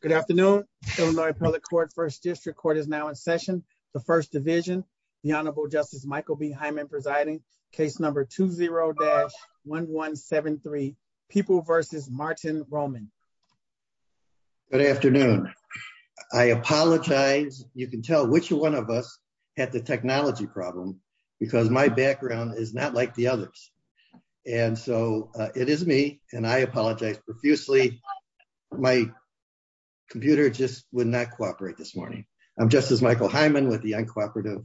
Good afternoon. I'm going to call the court first district court is now in session. The first division, the Honorable Justice Michael behind me presiding case number two zero dash 1173 people versus Martin Roman. Good afternoon. I apologize, you can tell which one of us had the technology problem, because my background is not like the others. And so, it is me, and I apologize profusely. My computer just would not cooperate this morning. I'm just as Michael Hyman with the uncooperative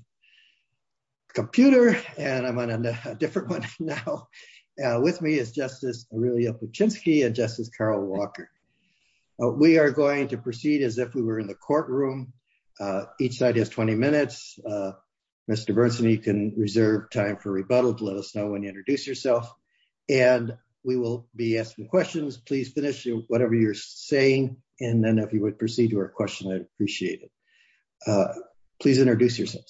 computer, and I'm on a different one. Now, with me is Justice, really a Chinsky and Justice Carol Walker. We are going to proceed as if we were in the courtroom. Each side has 20 minutes. Mr. Burson you can reserve time for rebuttal to let us know when you introduce yourself, and we will be asking questions please finish whatever you're saying, and then if you would proceed to our question I'd appreciate it. Please introduce yourself.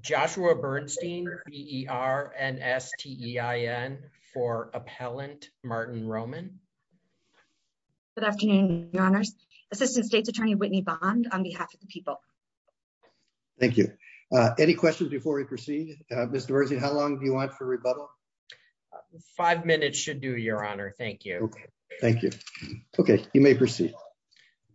Joshua Bernstein er and STI n for appellant Martin Roman. Good afternoon, Your Honors, Assistant State's Attorney Whitney bond on behalf of the people. Thank you. Any questions before we proceed. Mr. How long do you want for rebuttal. Five minutes should do Your Honor. Thank you. Thank you. Okay, you may proceed.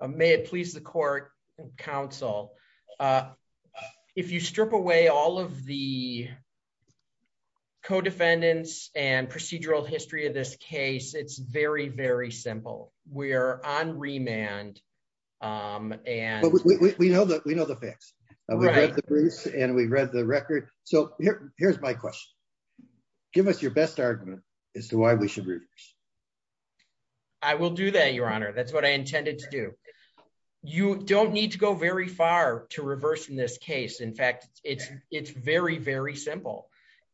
May it please the court counsel. If you strip away all of the co defendants and procedural history of this case it's very very simple. We're on remand. And we know that we know the facts. And we read the record. So, here's my question. Give us your best argument as to why we should read. I will do that Your Honor that's what I intended to do. You don't need to go very far to reverse in this case. In fact, it's, it's very very simple.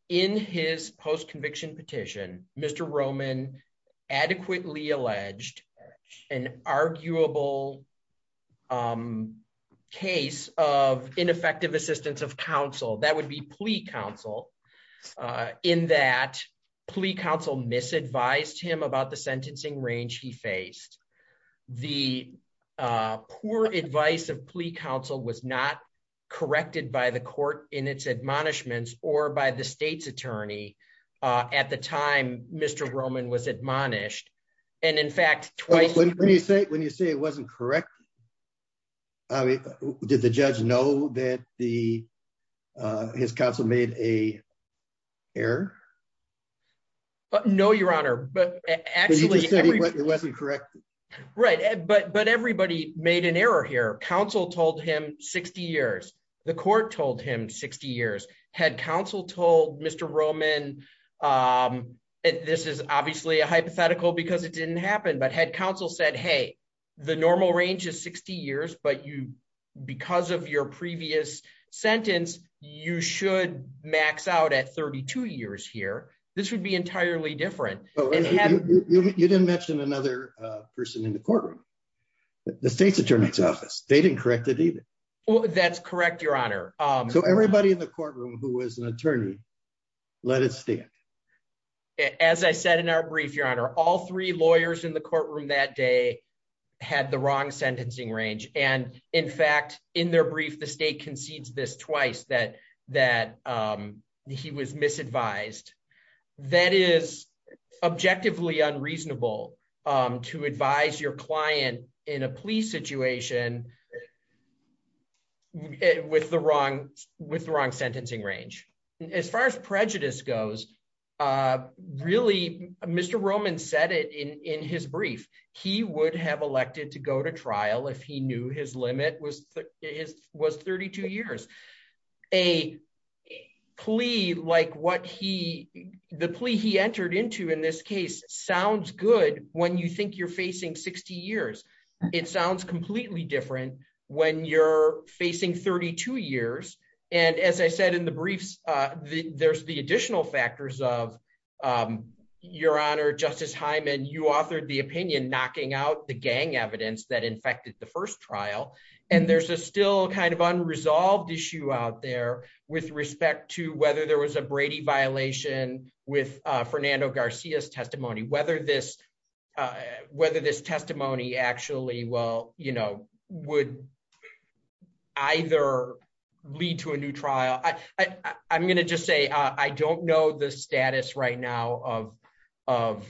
In his post conviction petition, Mr Roman adequately alleged an arguable case of ineffective assistance of counsel that would be plea counsel in that plea counsel misadvised him about the sentencing range he faced the poor advice of plea counsel was not corrected by the court in its admonishments, or by the state's attorney. At the time, Mr Roman was admonished. And in fact, when you say when you say it wasn't correct. Did the judge know that the his counsel made a error. No, Your Honor, but actually it wasn't correct. Right, but but everybody made an error here counsel told him 60 years, the court told him 60 years had counsel told Mr Roman. This is obviously a hypothetical because it didn't happen but had counsel said hey, the normal range is 60 years but you because of your previous sentence, you should max out at 32 years here, this would be entirely different. You didn't mention another person in the courtroom. The state's attorney's office, they didn't correct it either. Well, that's correct, Your Honor. So everybody in the courtroom who was an attorney. Let it stand. As I said in our brief Your Honor all three lawyers in the courtroom that day, had the wrong sentencing range, and in fact, in their brief the state concedes this twice that that he was misadvised. That is objectively unreasonable to advise your client in a police situation with the wrong with the wrong sentencing range. As far as prejudice goes. Really, Mr Roman said it in his brief, he would have elected to go to trial if he knew his limit was his was 32 years. A plea like what he the plea he entered into in this case sounds good when you think you're facing 60 years. It sounds completely different when you're facing 32 years. And as I said in the briefs. There's the additional factors of your honor Justice Hyman you authored the opinion knocking out the gang evidence that infected the first trial, and there's a still kind of unresolved issue out there with respect to whether there was a Brady violation with Fernando Garcia's testimony whether this whether this testimony actually well, you know, would either lead to a new trial, I, I'm going to just say I don't know the status right now of of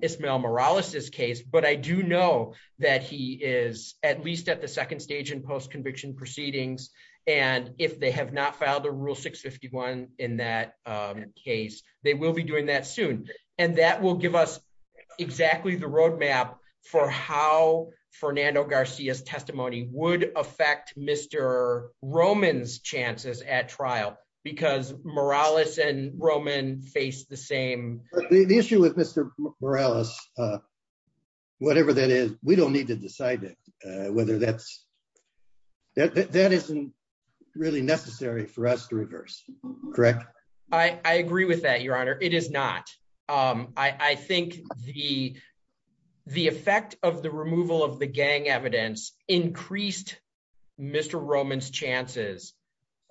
Ismael Morales this case but I do know that he is at least at the second stage in post conviction proceedings. And if they have not filed a rule 651. In that case, they will be doing that soon. And that will give us exactly the roadmap for how Fernando Garcia's testimony would affect Mr. Roman's chances at trial, because Morales and Roman face the same issue with Mr. Morales. Whatever that is, we don't need to decide whether that's that isn't really necessary for us to reverse. Correct. I agree with that your honor, it is not. I think the, the effect of the removal of the gang evidence increased. Mr. Roman's chances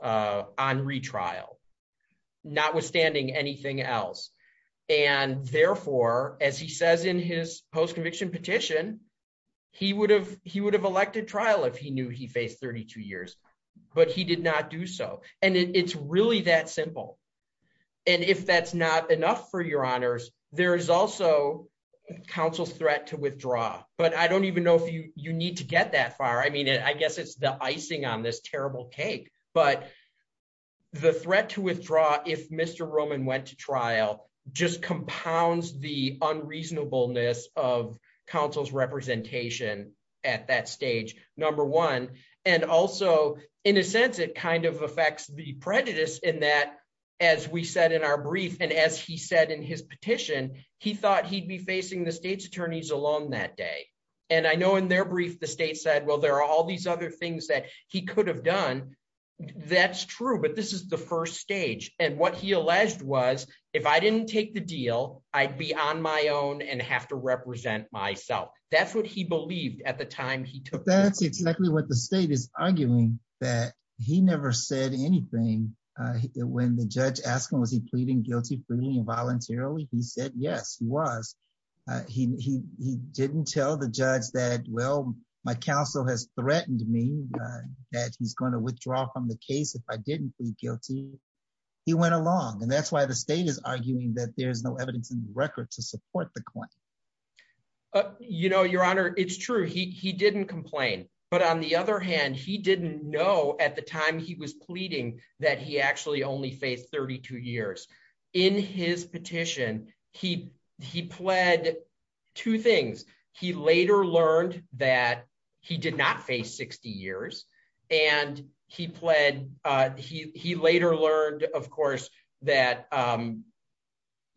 on retrial, notwithstanding anything else. And therefore, as he says in his post conviction petition, he would have, he would have elected trial if he knew he faced 32 years, but he did not do so. And it's really that simple. And if that's not enough for your honors. There is also counsel's threat to withdraw, but I don't even know if you need to get that far I mean I guess it's the icing on this terrible cake, but the threat to withdraw if Mr Roman went to trial, just compounds the So, in a sense, it kind of affects the prejudice in that, as we said in our brief and as he said in his petition, he thought he'd be facing the state's attorneys alone that day. And I know in their brief the state said well there are all these other things that he could have done. That's true but this is the first stage, and what he alleged was, if I didn't take the deal, I'd be on my own and have to represent myself. That's what he believed at the time he took that's exactly what the state is arguing that he never said anything. When the judge asked him was he pleading guilty freely and voluntarily he said yes he was. He didn't tell the judge that well, my counsel has threatened me that he's going to withdraw from the case if I didn't feel guilty. He went along and that's why the state is arguing that there's no evidence in the record to support the court. You know, Your Honor, it's true he didn't complain. But on the other hand, he didn't know at the time he was pleading that he actually only face 32 years in his petition, he, he pled two things. He later learned that he did not face 60 years, and he pled. He later learned, of course, that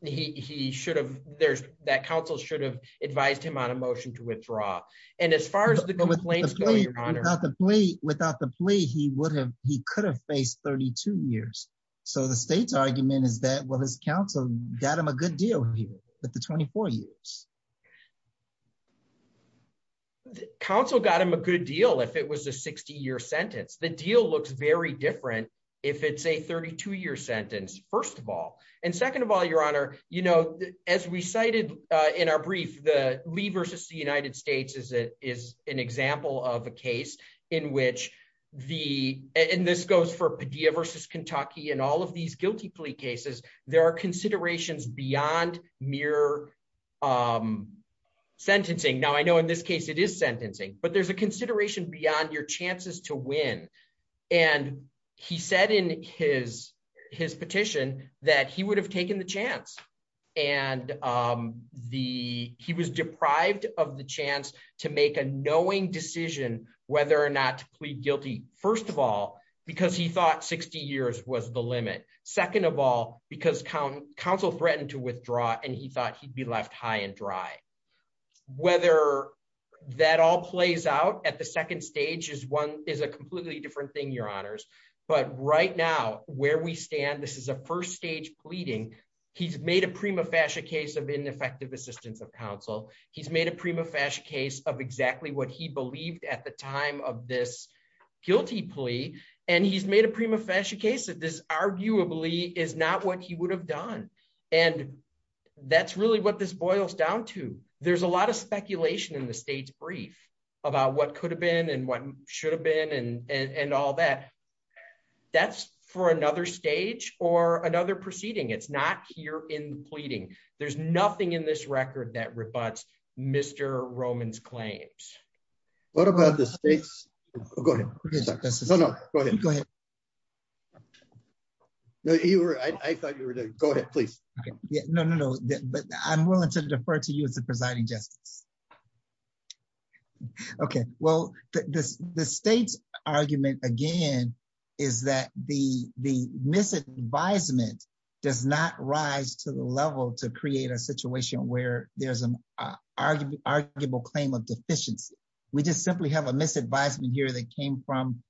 he should have there's that counsel should have advised him on a motion to withdraw. And as far as the complaint, without the plea, without the plea he would have, he could have faced 32 years. So the state's argument is that what his counsel got him a good deal here, but the 24 years. Council got him a good deal if it was a 60 year sentence the deal looks very different. If it's a 32 year sentence, first of all, and second of all, Your Honor, you know, as we cited in our brief the levers to see United States is it is an example of a case in which the, and this goes for Padilla versus Kentucky and all of these guilty plea cases, there are considerations beyond mere sentencing now I know in this case it is sentencing, but there's a consideration beyond your chances to win. And he said in his, his petition that he would have taken the chance. And the, he was deprived of the chance to make a knowing decision, whether or not to plead guilty, first of all, because he thought 60 years was the limit. Second of all, because count council threatened to withdraw and he thought he'd be left high and dry, whether that all plays out at the second stage is one is a completely different thing your honors, but right now, where we stand this is a first stage he's made a prima facie case of ineffective assistance of counsel, he's made a prima facie case of exactly what he believed at the time of this guilty plea, and he's made a prima facie case that this arguably is not what he would have done. And that's really what this boils down to. There's a lot of speculation in the state's brief about what could have been and what should have been and and all that. That's for another stage or another proceeding it's not here in pleading, there's nothing in this record that rebuts Mr Romans claims. What about the states. Go ahead. Go ahead. You were I thought you were to go ahead, please. No, no, no, but I'm willing to defer to you as a presiding justice. Okay, well, this, the state's argument, again, is that the, the misadvisement does not rise to the level to create a situation where there's an argument arguable claim of deficiency. We just simply have a misadvisement here that came from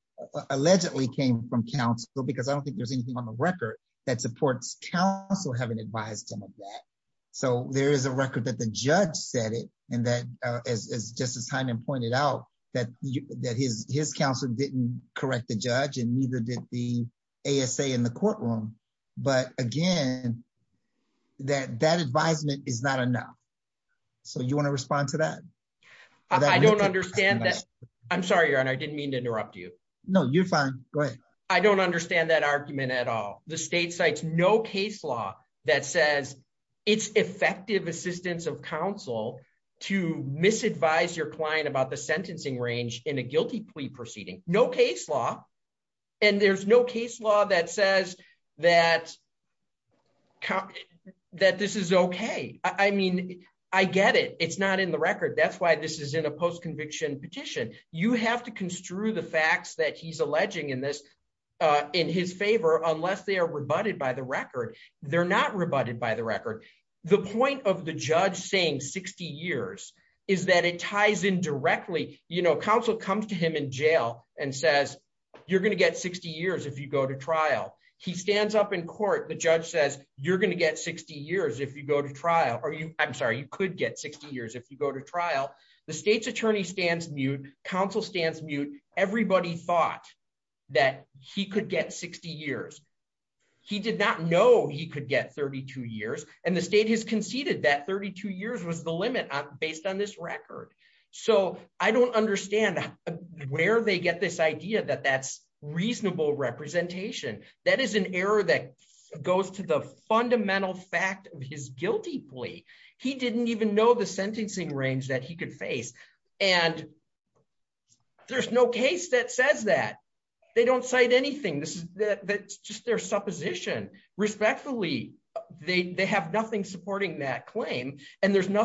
allegedly came from counsel because I don't think there's anything on the record that supports counsel haven't advised him of that. So there is a record that the judge said it, and that is just as time and pointed out that that his, his counsel didn't correct the judge and neither did the ASA in the courtroom. But again, that that advisement is not enough. So you want to respond to that. I don't understand that. I'm sorry and I didn't mean to interrupt you. No, you're fine. I don't understand that argument at all. The state sites no case law that says it's effective assistance of counsel to misadvise your client about the sentencing range in a guilty plea proceeding, no case law. And there's no case law that says that, that this is okay. I mean, I get it, it's not in the record that's why this is in a post conviction petition, you have to construe the facts that he's alleging in this in his favor, unless they are rebutted by the You're going to get 60 years if you go to trial, he stands up in court, the judge says, you're going to get 60 years if you go to trial, are you, I'm sorry, you could get 60 years if you go to trial, the state's attorney stands mute counsel stands mute, everybody thought that he could get 60 years. He did not know he could get 32 years, and the state has conceded that 32 years was the limit on based on this record. So, I don't understand where they get this idea that that's reasonable representation, that is an error that goes to the fundamental fact of his guilty plea. He didn't even know the sentencing range that he could face. And there's no case that says that they don't cite anything this is that's just their supposition, respectfully, they have nothing supporting that claim, and there's was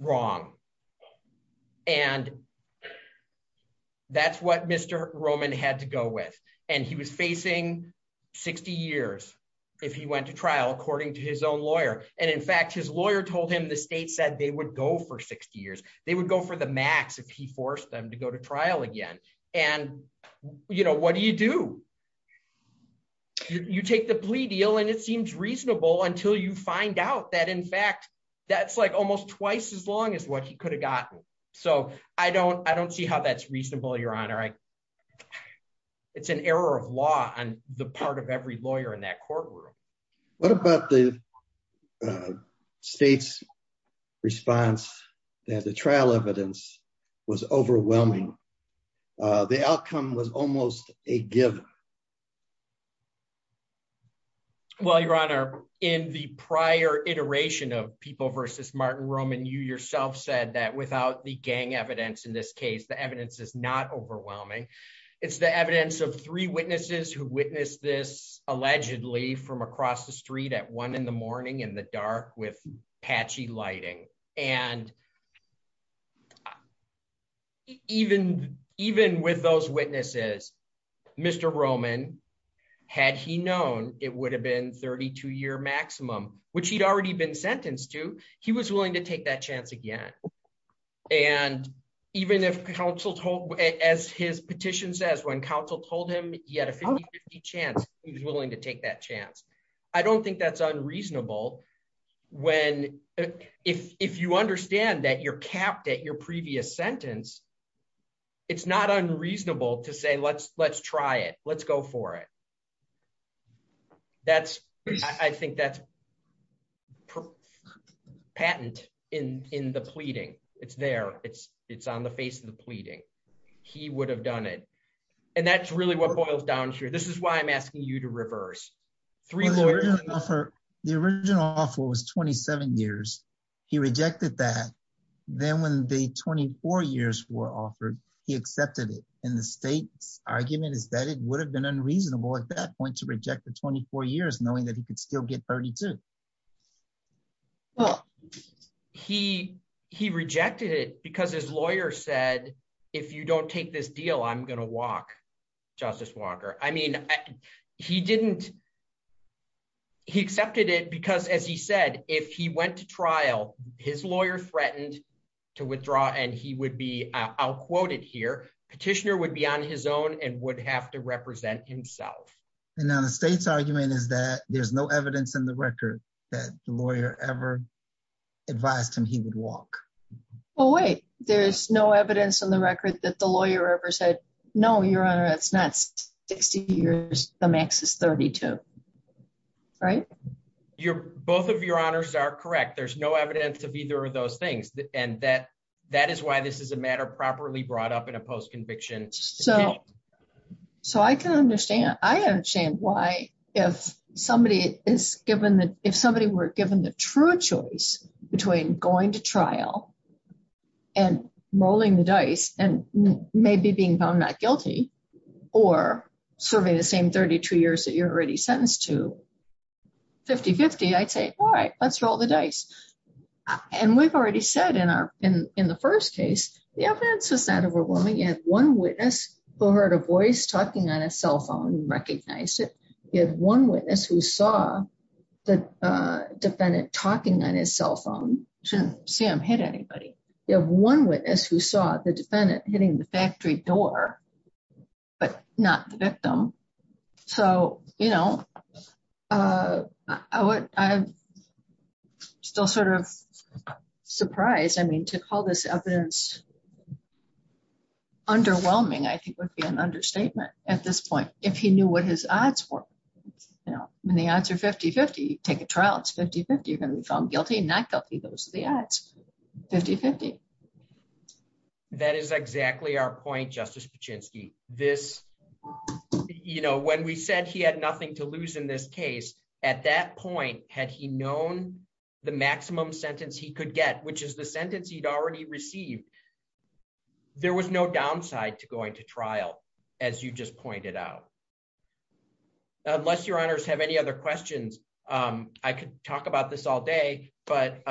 wrong. And that's what Mr. Roman had to go with, and he was facing 60 years. If he went to trial according to his own lawyer, and in fact his lawyer told him the state said they would go for 60 years, they would go for the max if he forced them to go to trial again. And, you know, what do you do. You take the plea deal and it seems reasonable until you find out that in fact that's like almost twice as long as what he could have gotten. So, I don't, I don't see how that's reasonable your honor I. It's an error of law and the part of every lawyer in that courtroom. What about the state's response that the trial evidence was overwhelming. The outcome was almost a given. Well your honor in the prior iteration of people versus Martin Roman you yourself said that without the gang evidence in this case the evidence is not overwhelming. It's the evidence of three witnesses who witnessed this allegedly from across the street at one in the morning in the dark with patchy lighting, and even, even with those witnesses. Mr Roman. Had he known it would have been 32 year maximum, which he'd already been sentenced to. He was willing to take that chance again. And even if counsel told as his petition says when counsel told him, he had a chance, he was willing to take that chance. I don't think that's unreasonable. When, if you understand that you're capped at your previous sentence. It's not unreasonable to say let's let's try it, let's go for it. That's, I think that's patent in in the pleading, it's there, it's, it's on the face of the pleading. He would have done it. And that's really what boils down to this is why I'm asking you to reverse three lawyers offer the original offer was 27 years. He rejected that. Then when the 24 years were offered, he accepted it in the state's argument is that it would have been unreasonable at that point to reject the 24 years knowing that he could still get 32. Well, he, he rejected it because his lawyer said, if you don't take this deal I'm going to walk. Justice Walker, I mean, he didn't. He accepted it because as he said, if he went to trial, his lawyer threatened to withdraw and he would be out quoted here petitioner would be on his own and would have to represent himself. And now the state's argument is that there's no evidence in the record that lawyer ever advised him he would walk away, there's no evidence on the record that the lawyer ever said, No, Your Honor, it's not 60 years, the max is 32. Right. You're both of your honors are correct there's no evidence of either of those things, and that that is why this is a matter properly brought up in a post conviction. So, so I can understand I understand why, if somebody is given that if somebody were given the true choice between going to trial and rolling the dice, and maybe being found not guilty or serving the same 32 years that you're already sentenced to 5050 I'd say, All right, let's roll the dice. And we've already said in our, in, in the first case, the evidence is not overwhelming and one witness who heard a voice talking on a cell phone recognize it. If one witness who saw the defendant talking on his cell phone to see him hit anybody. You have one witness who saw the defendant hitting the factory door, but not the victim. So, you know, I would still sort of surprised I mean to call this evidence. Underwhelming I think would be an understatement. At this point, if he knew what his odds were. Now, when the answer 5050 take a trial it's 5050 you're going to be found guilty and not guilty those the ads 5050. That is exactly our point Justice Pachinksi, this, you know, when we said he had nothing to lose in this case. At that point, had he known the maximum sentence he could get which is the sentence he'd already received. There was no downside to going to trial. As you just pointed out. Unless your honors have any other questions. I could talk about this all day, but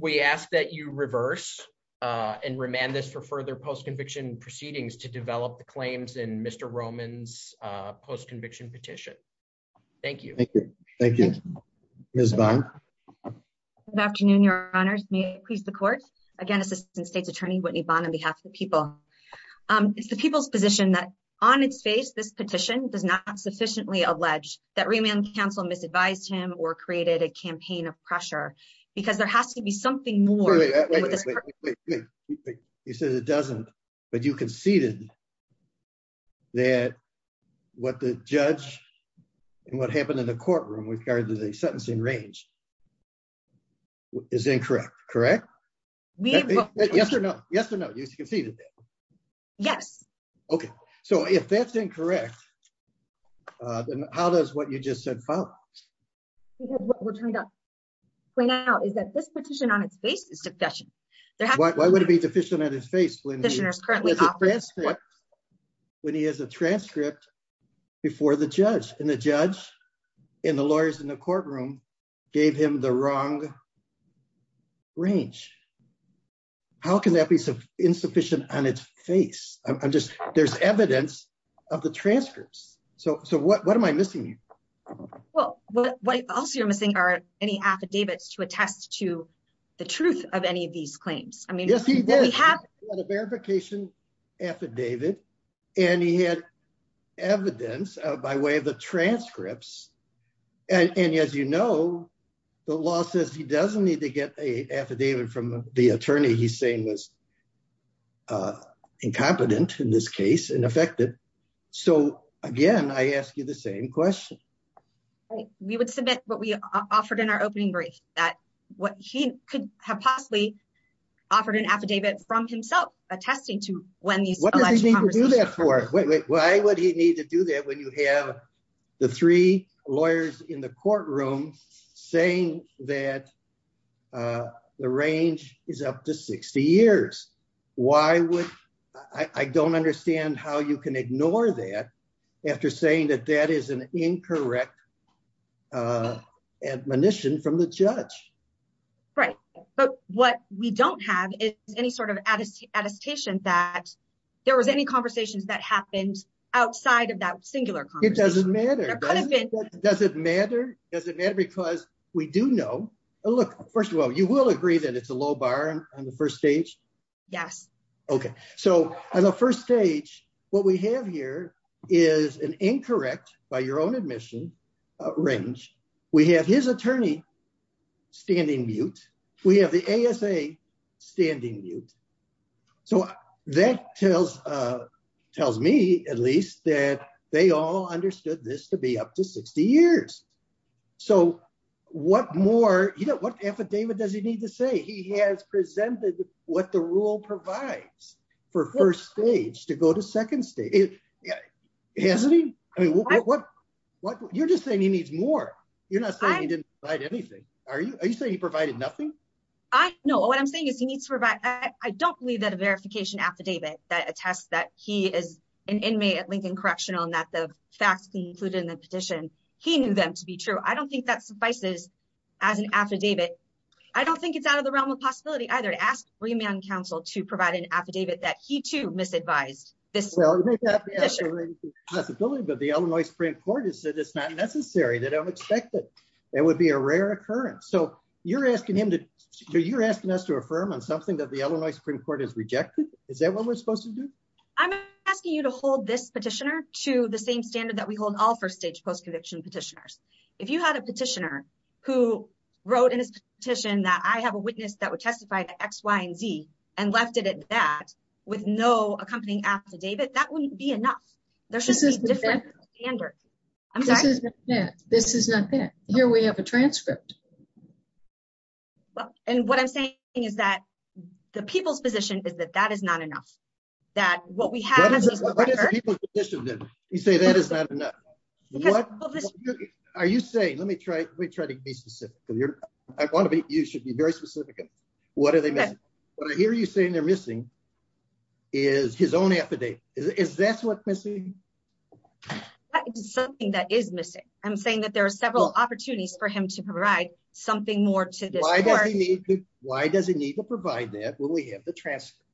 we ask that you reverse and remand this for further post conviction proceedings to develop the claims and Mr Romans post conviction petition. Thank you. Thank you. This month. Afternoon, your honors me please the court again Assistant State's Attorney Whitney bond on behalf of the people. It's the people's position that on its face this petition does not sufficiently allege that remand counsel misadvised him or created a campaign of pressure, because there has to be something more. You said it doesn't, but you conceded that what the judge. And what happened in the courtroom we've heard the sentence in range is incorrect. Correct. Yes or no, yes or no. Yes. Okay, so if that's incorrect. How does what you just said. We're trying to point out is that this petition on its face is sufficient. Why would it be deficient on his face when he has a transcript before the judge and the judge in the lawyers in the courtroom, gave him the wrong range. How can that be insufficient on its face, I'm just, there's evidence of the transcripts. So, so what what am I missing. Well, what else you're missing are any affidavits to attest to the truth of any of these claims. I mean, yes he did have a verification affidavit, and he had evidence of by way of the transcripts. And as you know, the law says he doesn't need to get a affidavit from the attorney he's saying was incompetent in this case and affected. So, again, I asked you the same question. We would submit what we offered in our opening brief that what he could have possibly offered an affidavit from himself, attesting to when you do that for, why would he need to do that when you have the three lawyers in the courtroom, saying that the range is up to 60 years. Why would I don't understand how you can ignore that. After saying that that is an incorrect admonition from the judge. Right. But what we don't have any sort of attestation that there was any conversations that happened outside of that singular. It doesn't matter. Does it matter, does it matter because we do know. Look, first of all, you will agree that it's a low bar on the first stage. Yes. Okay. So, as a first stage, what we have here is an incorrect by your own admission range. We have his attorney standing mute. We have the ASA standing mute. So, that tells tells me at least that they all understood this to be up to 60 years. So, what more you know what affidavit does he need to say he has presented what the rule provides for first stage to go to second stage. Hasn't he. I mean, what, what you're just saying he needs more. You're not saying he didn't write anything. Are you, are you saying he provided nothing. I know what I'm saying is he needs to provide. I don't believe that a verification affidavit that attests that he is an inmate at Lincoln Correctional and that the facts included in the petition. He knew them to be true. I don't think that suffices as an affidavit. I don't think it's out of the realm of possibility either to ask for your man counsel to provide an affidavit that he to misadvised this. But the Illinois Supreme Court has said it's not necessary that I would expect that it would be a rare occurrence so you're asking him to do you're asking us to affirm on something that the Illinois Supreme Court is rejected. Is that what we're supposed to do. I'm asking you to hold this petitioner to the same standard that we hold all first stage post conviction petitioners. If you had a petitioner who wrote in his petition that I have a witness that would testify to X, Y, and Z, and left it at that, with no accompanying affidavit that wouldn't be enough. There's just a different standard. This is not here we have a transcript. And what I'm saying is that the people's position is that that is not enough, that what we have. You say that is not enough. Are you saying let me try, let me try to be specific. I want to be, you should be very specific. What are they. What I hear you saying they're missing is his own affidavit is that's what missing something that is missing. I'm saying that there are several opportunities for him to provide something more to this. Why does he need to provide that when we have the transcript.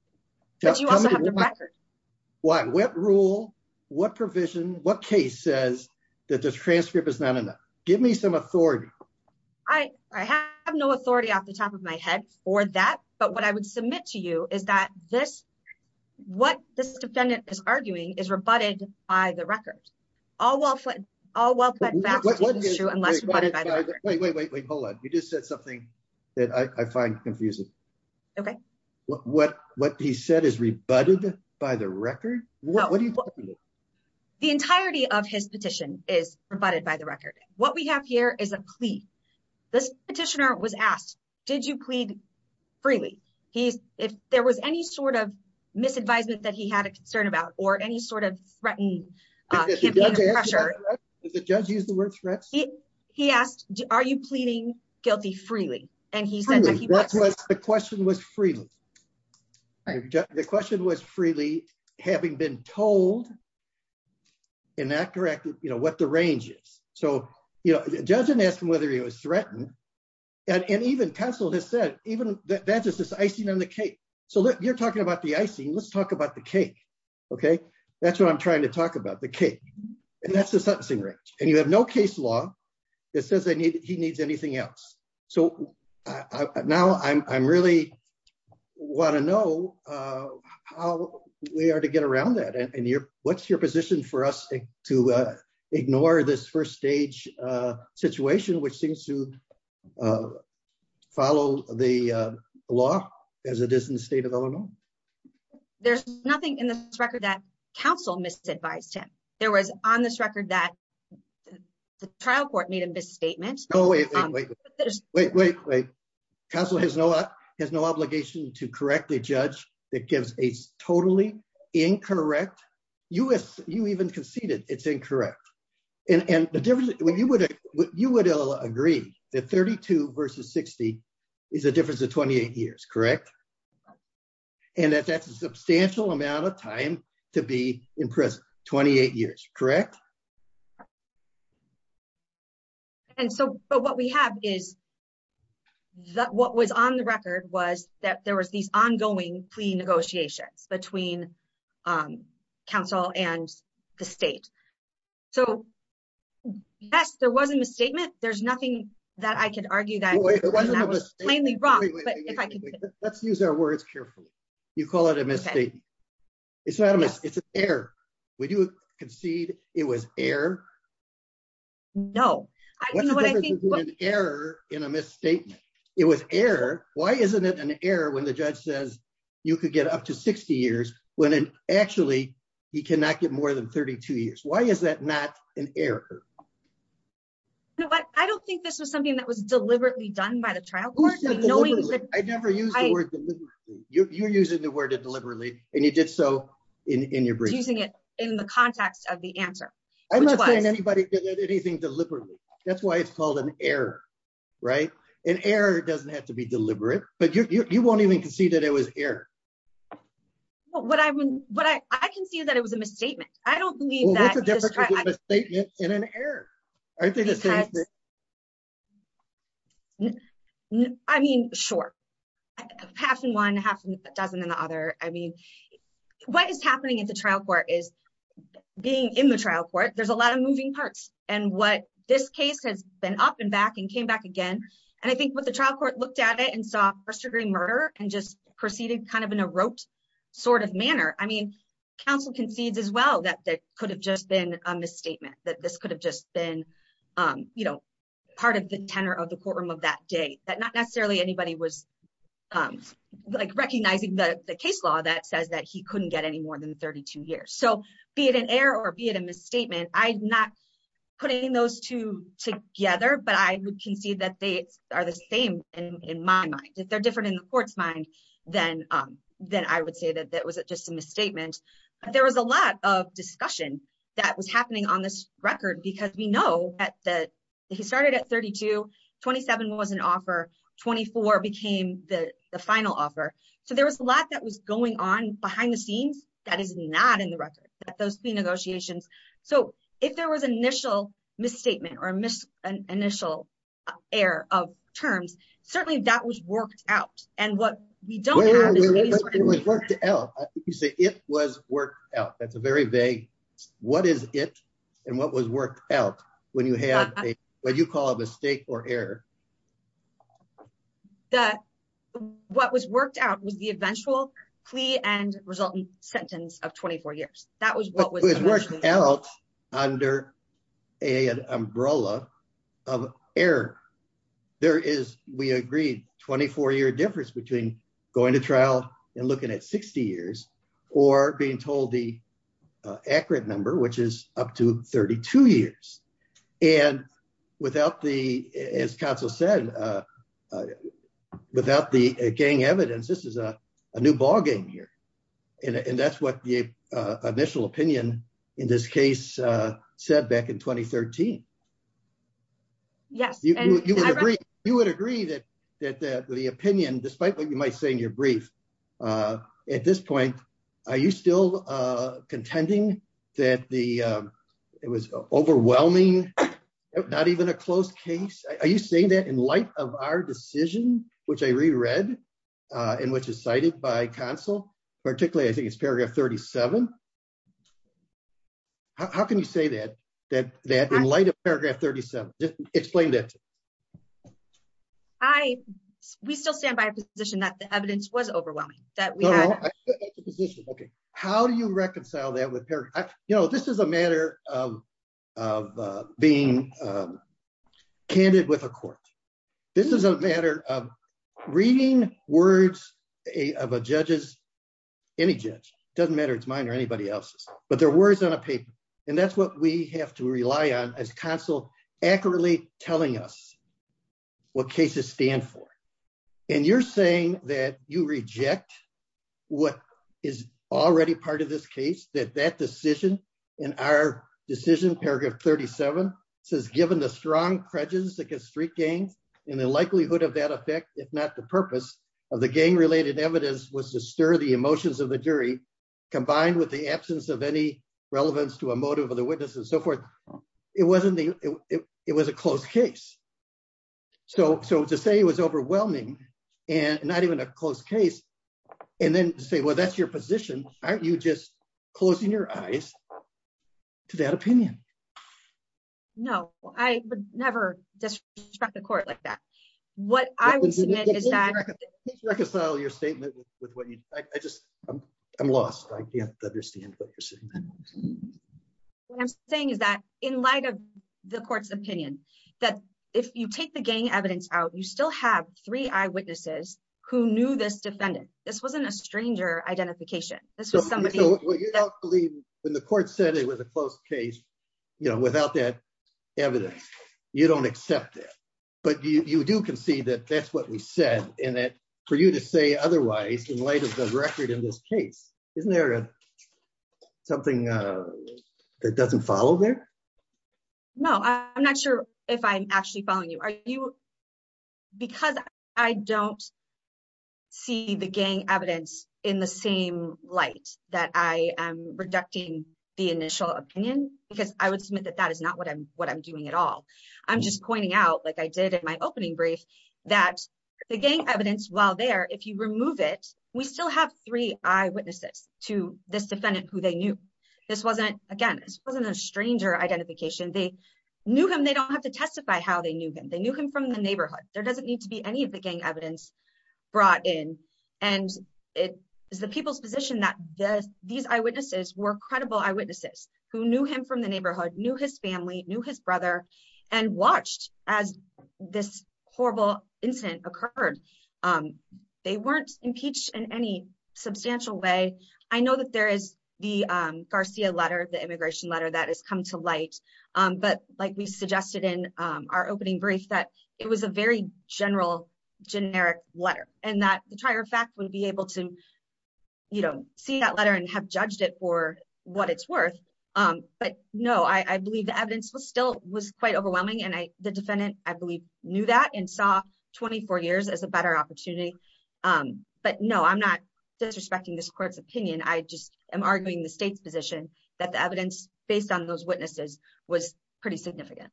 Why what rule, what provision, what case says that this transcript is not enough. Give me some authority. I have no authority off the top of my head, or that, but what I would submit to you is that this. What this defendant is arguing is rebutted by the record. All well, all well. Wait, wait, wait, wait, hold on. You just said something that I find confusing. Okay. What, what, what he said is rebutted by the record. What do you. The entirety of his petition is provided by the record, what we have here is a plea. This petitioner was asked, did you plead freely. He's, if there was any sort of misadvisement that he had a concern about or any sort of threatened. The judge used the word threat. He, he asked, are you pleading guilty freely, and he said the question was freedom. The question was freely, having been told. In that corrected, you know what the ranges. So, you know, doesn't ask him whether he was threatened. And even pencil has said, even that that's just this icing on the cake. So you're talking about the icing let's talk about the cake. Okay, that's what I'm trying to talk about the cake. And you have no case law. It says I need he needs anything else. So, now I'm really want to know how we are to get around that and you're, what's your position for us to ignore this first stage situation which seems to follow the law, as it is in the state of Illinois. There's nothing in the record that counsel misadvised him. There was on this record that the trial court made a misstatement. Wait, wait, wait. Council has no has no obligation to correctly judge that gives a totally incorrect us, you even conceded it's incorrect. And the difference when you would you would agree that 32 versus 60 is a difference of 28 years correct. And that's a substantial amount of time to be in prison, 28 years, correct. And so, but what we have is that what was on the record was that there was these ongoing pre negotiations between Council and the state. So, yes, there wasn't a statement, there's nothing that I could argue that was plainly wrong, but let's use our words carefully. You call it a mistake. It's an error. Would you concede, it was air. No error in a misstatement. It was air. Why isn't it an error when the judge says you could get up to 60 years when actually he cannot get more than 32 years why is that not an error. But I don't think this was something that was deliberately done by the trial. I never used. You're using the word deliberately, and you did so in your breathing it in the context of the answer. I'm not saying anybody did anything deliberately. That's why it's called an error. Right, an error doesn't have to be deliberate, but you won't even concede that it was air. What I mean, but I can see that it was a misstatement, I don't believe that statement in an air. I mean, sure. Half and one half dozen and the other. I mean, what is happening in the trial court is being in the trial court, there's a lot of moving parts, and what this case has been up and back and came back again. And I think what the trial court looked at it and saw first degree murder, and just proceeded kind of in a rote sort of manner, I mean, counsel concedes as well that that could have just been a misstatement that this could have just been, you know, part of the in my mind that they're different in the court's mind, then, then I would say that that was just a misstatement. There was a lot of discussion that was happening on this record because we know that he started at 3227 was an offer 24 became the final offer. So there was a lot that was going on behind the scenes, that is not in the record, those three negotiations. So, if there was initial misstatement or miss an initial air of terms, certainly that was worked out, and what we don't have. You say it was worked out that's a very vague. What is it, and what was worked out when you have a, what you call a mistake or error. That what was worked out was the eventual plea and resulting sentence of 24 years, that was what was working out under a umbrella of air. There is, we agreed 24 year difference between going to trial and looking at 60 years or being told the accurate number which is up to 32 years and without the as Council said, without the gang evidence, this is a new ballgame here. And that's what the initial opinion. In this case, said back in 2013. Yes, you would agree that that the opinion, despite what you might say in your brief. At this point, are you still contending that the. It was overwhelming. Not even a close case, are you saying that in light of our decision, which I reread in which is cited by Council, particularly I think it's paragraph 37. How can you say that, that, that in light of paragraph 37 explained it. I, we still stand by position that the evidence was overwhelming that we had. Okay, how do you reconcile that with her. You know, this is a matter of, of being candid with a court. This is a matter of reading words of a judges any judge doesn't matter it's mine or anybody else's, but their words on a paper. And that's what we have to rely on as Council accurately telling us what cases stand for. And you're saying that you reject. What is already part of this case that that decision in our decision paragraph 37 says given the strong credence against street gangs, and the likelihood of that effect, if not the purpose of the gang related evidence was to stir the emotions of the jury, combined with the absence of any relevance to a motive of the witnesses so forth. It wasn't the. It was a close case. So, so to say it was overwhelming, and not even a close case. And then say well that's your position, aren't you just closing your eyes to that opinion. No, I never just struck the court like that. What I would say is that reconcile your statement with what you, I just, I'm lost I can't understand what you're saying. I'm saying is that, in light of the court's opinion that if you take the gang evidence out you still have three eyewitnesses, who knew this defendant. This wasn't a stranger identification. This was somebody when the court said it was a close case, you know, without that evidence. You don't accept it, but you do can see that that's what we said in it for you to say otherwise in light of the record in this case, isn't there something that doesn't follow there. No, I'm not sure if I'm actually following you are you because I don't see the gang evidence in the same light that I am reducting the initial opinion, because I would submit that that is not what I'm what I'm doing at all. I'm just pointing out like I did in my opening brief, that the gang evidence while there if you remove it, we still have three eyewitnesses to this defendant who they knew this wasn't again this wasn't a stranger identification they knew him they don't have to testify how they knew him they knew him from the neighborhood, there doesn't need to be any of the gang evidence brought in, and it is the people's position that this, these eyewitnesses were credible eyewitnesses who knew him from the neighborhood knew his family knew his brother and watched as this horrible incident occurred. They weren't impeached in any substantial way. I know that there is the Garcia letter the immigration letter that has come to light. But like we suggested in our opening brief that it was a very general generic letter, and that the trier fact would be able to, you know, see that letter and have judged it for what it's worth. But, no, I believe the evidence was still was quite overwhelming and I, the defendant, I believe, knew that and saw 24 years as a better opportunity. But no, I'm not disrespecting this court's opinion I just am arguing the state's position that the evidence, based on those witnesses was pretty significant.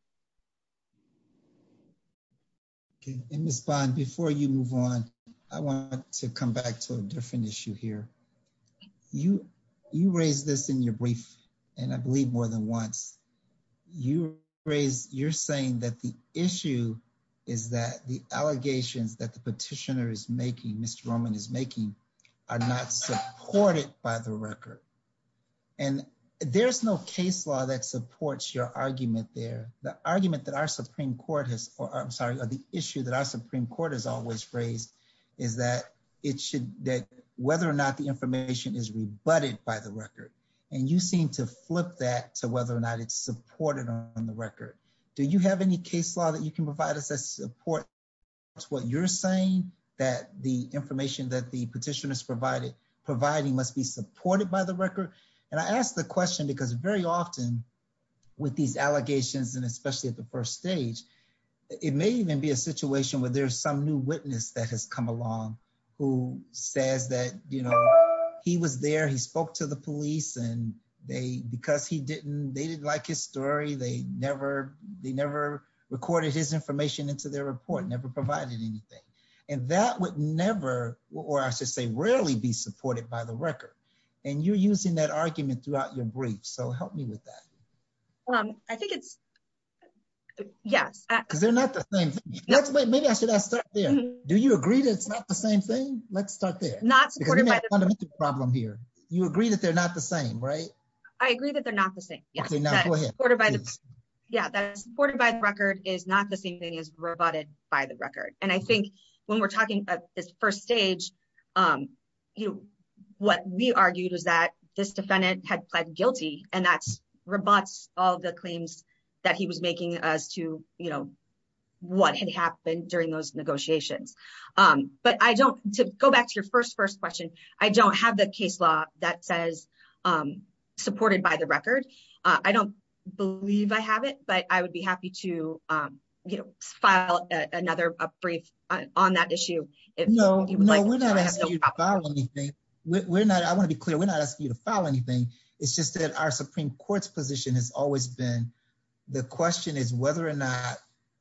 Okay, and respond before you move on. I want to come back to a different issue here. You, you raise this in your brief, and I believe more than once you raise, you're saying that the issue is that the allegations that the petitioner is making Mr Roman is making are not supported by the record. And there's no case law that supports your argument there, the argument that our Supreme Court has, or I'm sorry, or the issue that our Supreme Court has always raised is that it should that whether or not the information is rebutted by the record, and you seem to flip that to whether or not it's supported on the record. Do you have any case law that you can provide us as support to what you're saying that the information that the petitioners provided, providing must be supported by the record. And I asked the question because very often with these allegations and especially at the first stage. It may even be a situation where there's some new witness that has come along, who says that, you know, he was there he spoke to the police and they because he didn't they didn't like his story they never they never recorded his information into their report never provided anything. And that would never, or I should say rarely be supported by the record. And you're using that argument throughout your brief so help me with that. I think it's. Yes, they're not the same. Do you agree that it's not the same thing. Let's start there, not supported by the problem here, you agree that they're not the same right. I agree that they're not the same. Yeah, that's supported by the record is not the same thing as rebutted by the record, and I think when we're talking about this first stage. You. What we argued was that this defendant had pled guilty, and that's robots, all the claims that he was making us to, you know, what had happened during those negotiations. But I don't go back to your first first question. I don't have the case law that says supported by the record. I don't believe I have it but I would be happy to file another brief on that issue. No, no, we're not. We're not I want to be clear, we're not asking you to file anything. It's just that our Supreme Court's position has always been. The question is whether or not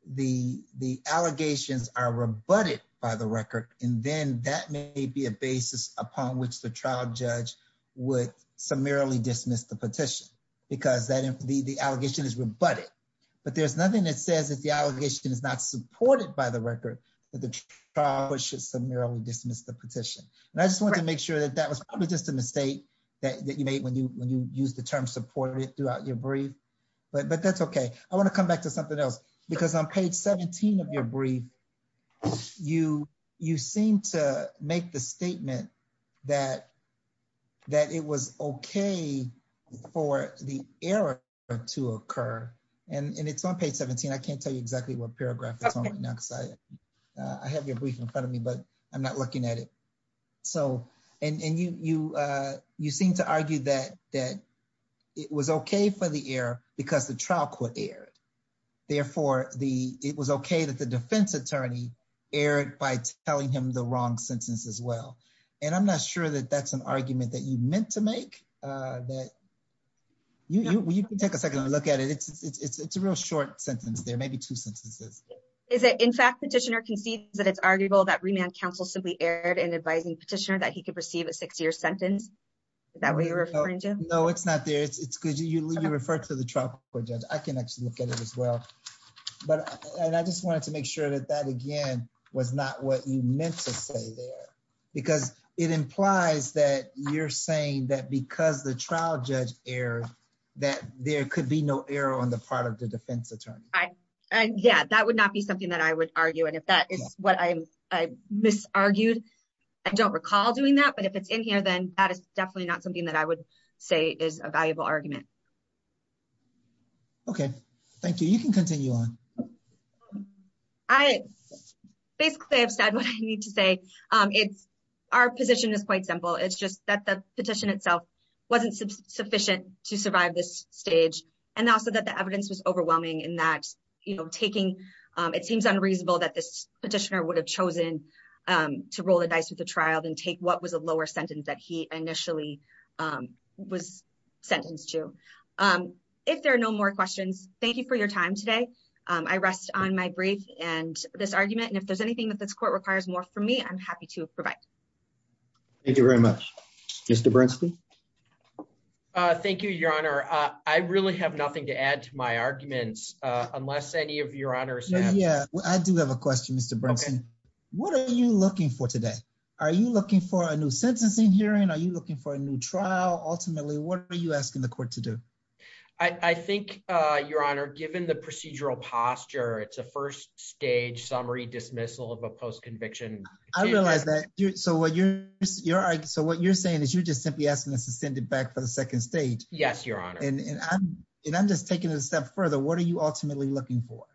the the allegations are rebutted by the record, and then that may be a basis upon which the trial judge would summarily dismiss the petition, because that the the allegation is rebutted. But there's nothing that says that the allegation is not supported by the record that the trial judge should summarily dismiss the petition. And I just want to make sure that that was probably just a mistake that you made when you when you use the term supported throughout your brief, but but that's okay. I want to come back to something else, because on page 17 of your brief, you, you seem to make the statement that that it was okay for the error to occur, and it's on page 17 I can't tell you exactly what paragraph. I have your brief in front of me, but I'm not looking at it. So, and you, you, you seem to argue that that it was okay for the air, because the trial court aired. Therefore, the, it was okay that the defense attorney Eric by telling him the wrong sentence as well. And I'm not sure that that's an argument that you meant to make that you can take a second look at it it's a real short sentence there maybe two sentences. Is it in fact petitioner can see that it's arguable that remand counsel simply aired and advising petitioner that he could receive a six year sentence. That way you're referring to know it's not there it's good you refer to the truck or judge, I can actually look at it as well. But, and I just wanted to make sure that that again was not what you meant to say there, because it implies that you're saying that because the trial judge air that there could be no error on the part of the defense attorney. Yeah, that would not be something that I would argue and if that is what I misargued. I don't recall doing that but if it's in here then that is definitely not something that I would say is a valuable argument. Okay, thank you. You can continue on. I basically have said what I need to say, it's our position is quite simple it's just that the petition itself wasn't sufficient to survive this stage, and also that the evidence was overwhelming in that, you know, taking. It seems unreasonable that this petitioner would have chosen to roll the dice with the trial then take what was a lower sentence that he initially was sentenced to. If there are no more questions, thank you for your time today. I rest on my brief, and this argument and if there's anything that this court requires more from me I'm happy to provide. Thank you very much. Mr Bernstein. Thank you, Your Honor, I really have nothing to add to my arguments, unless any of your honors. Yeah, I do have a question. What are you looking for today. Are you looking for a new sentencing hearing are you looking for a new trial, ultimately what are you asking the court to do. I think, Your Honor, given the procedural posture it's a first stage summary dismissal of a post conviction. I realized that you're so what you're, you're so what you're saying is you're just simply asking us to send it back for the second stage. Yes, Your Honor, and I'm just taking a step further what are you ultimately looking for.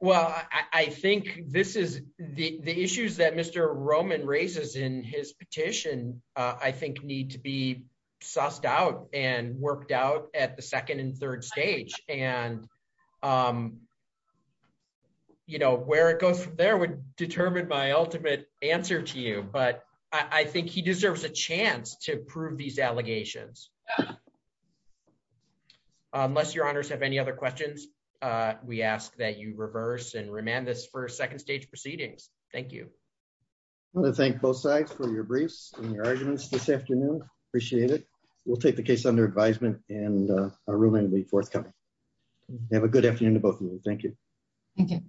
Well, I think this is the issues that Mr Roman races in his petition, I think need to be sussed out and worked out at the second and third stage, and, you know, where it goes from there would determine my ultimate answer to you but I think he deserves a chance to prove these allegations. Unless your honors have any other questions. We ask that you reverse and remand this for a second stage proceedings. Thank you. I want to thank both sides for your briefs and your arguments this afternoon. Appreciate it. We'll take the case under advisement, and a room and we forthcoming. Have a good afternoon to both of you. Thank you. Okay.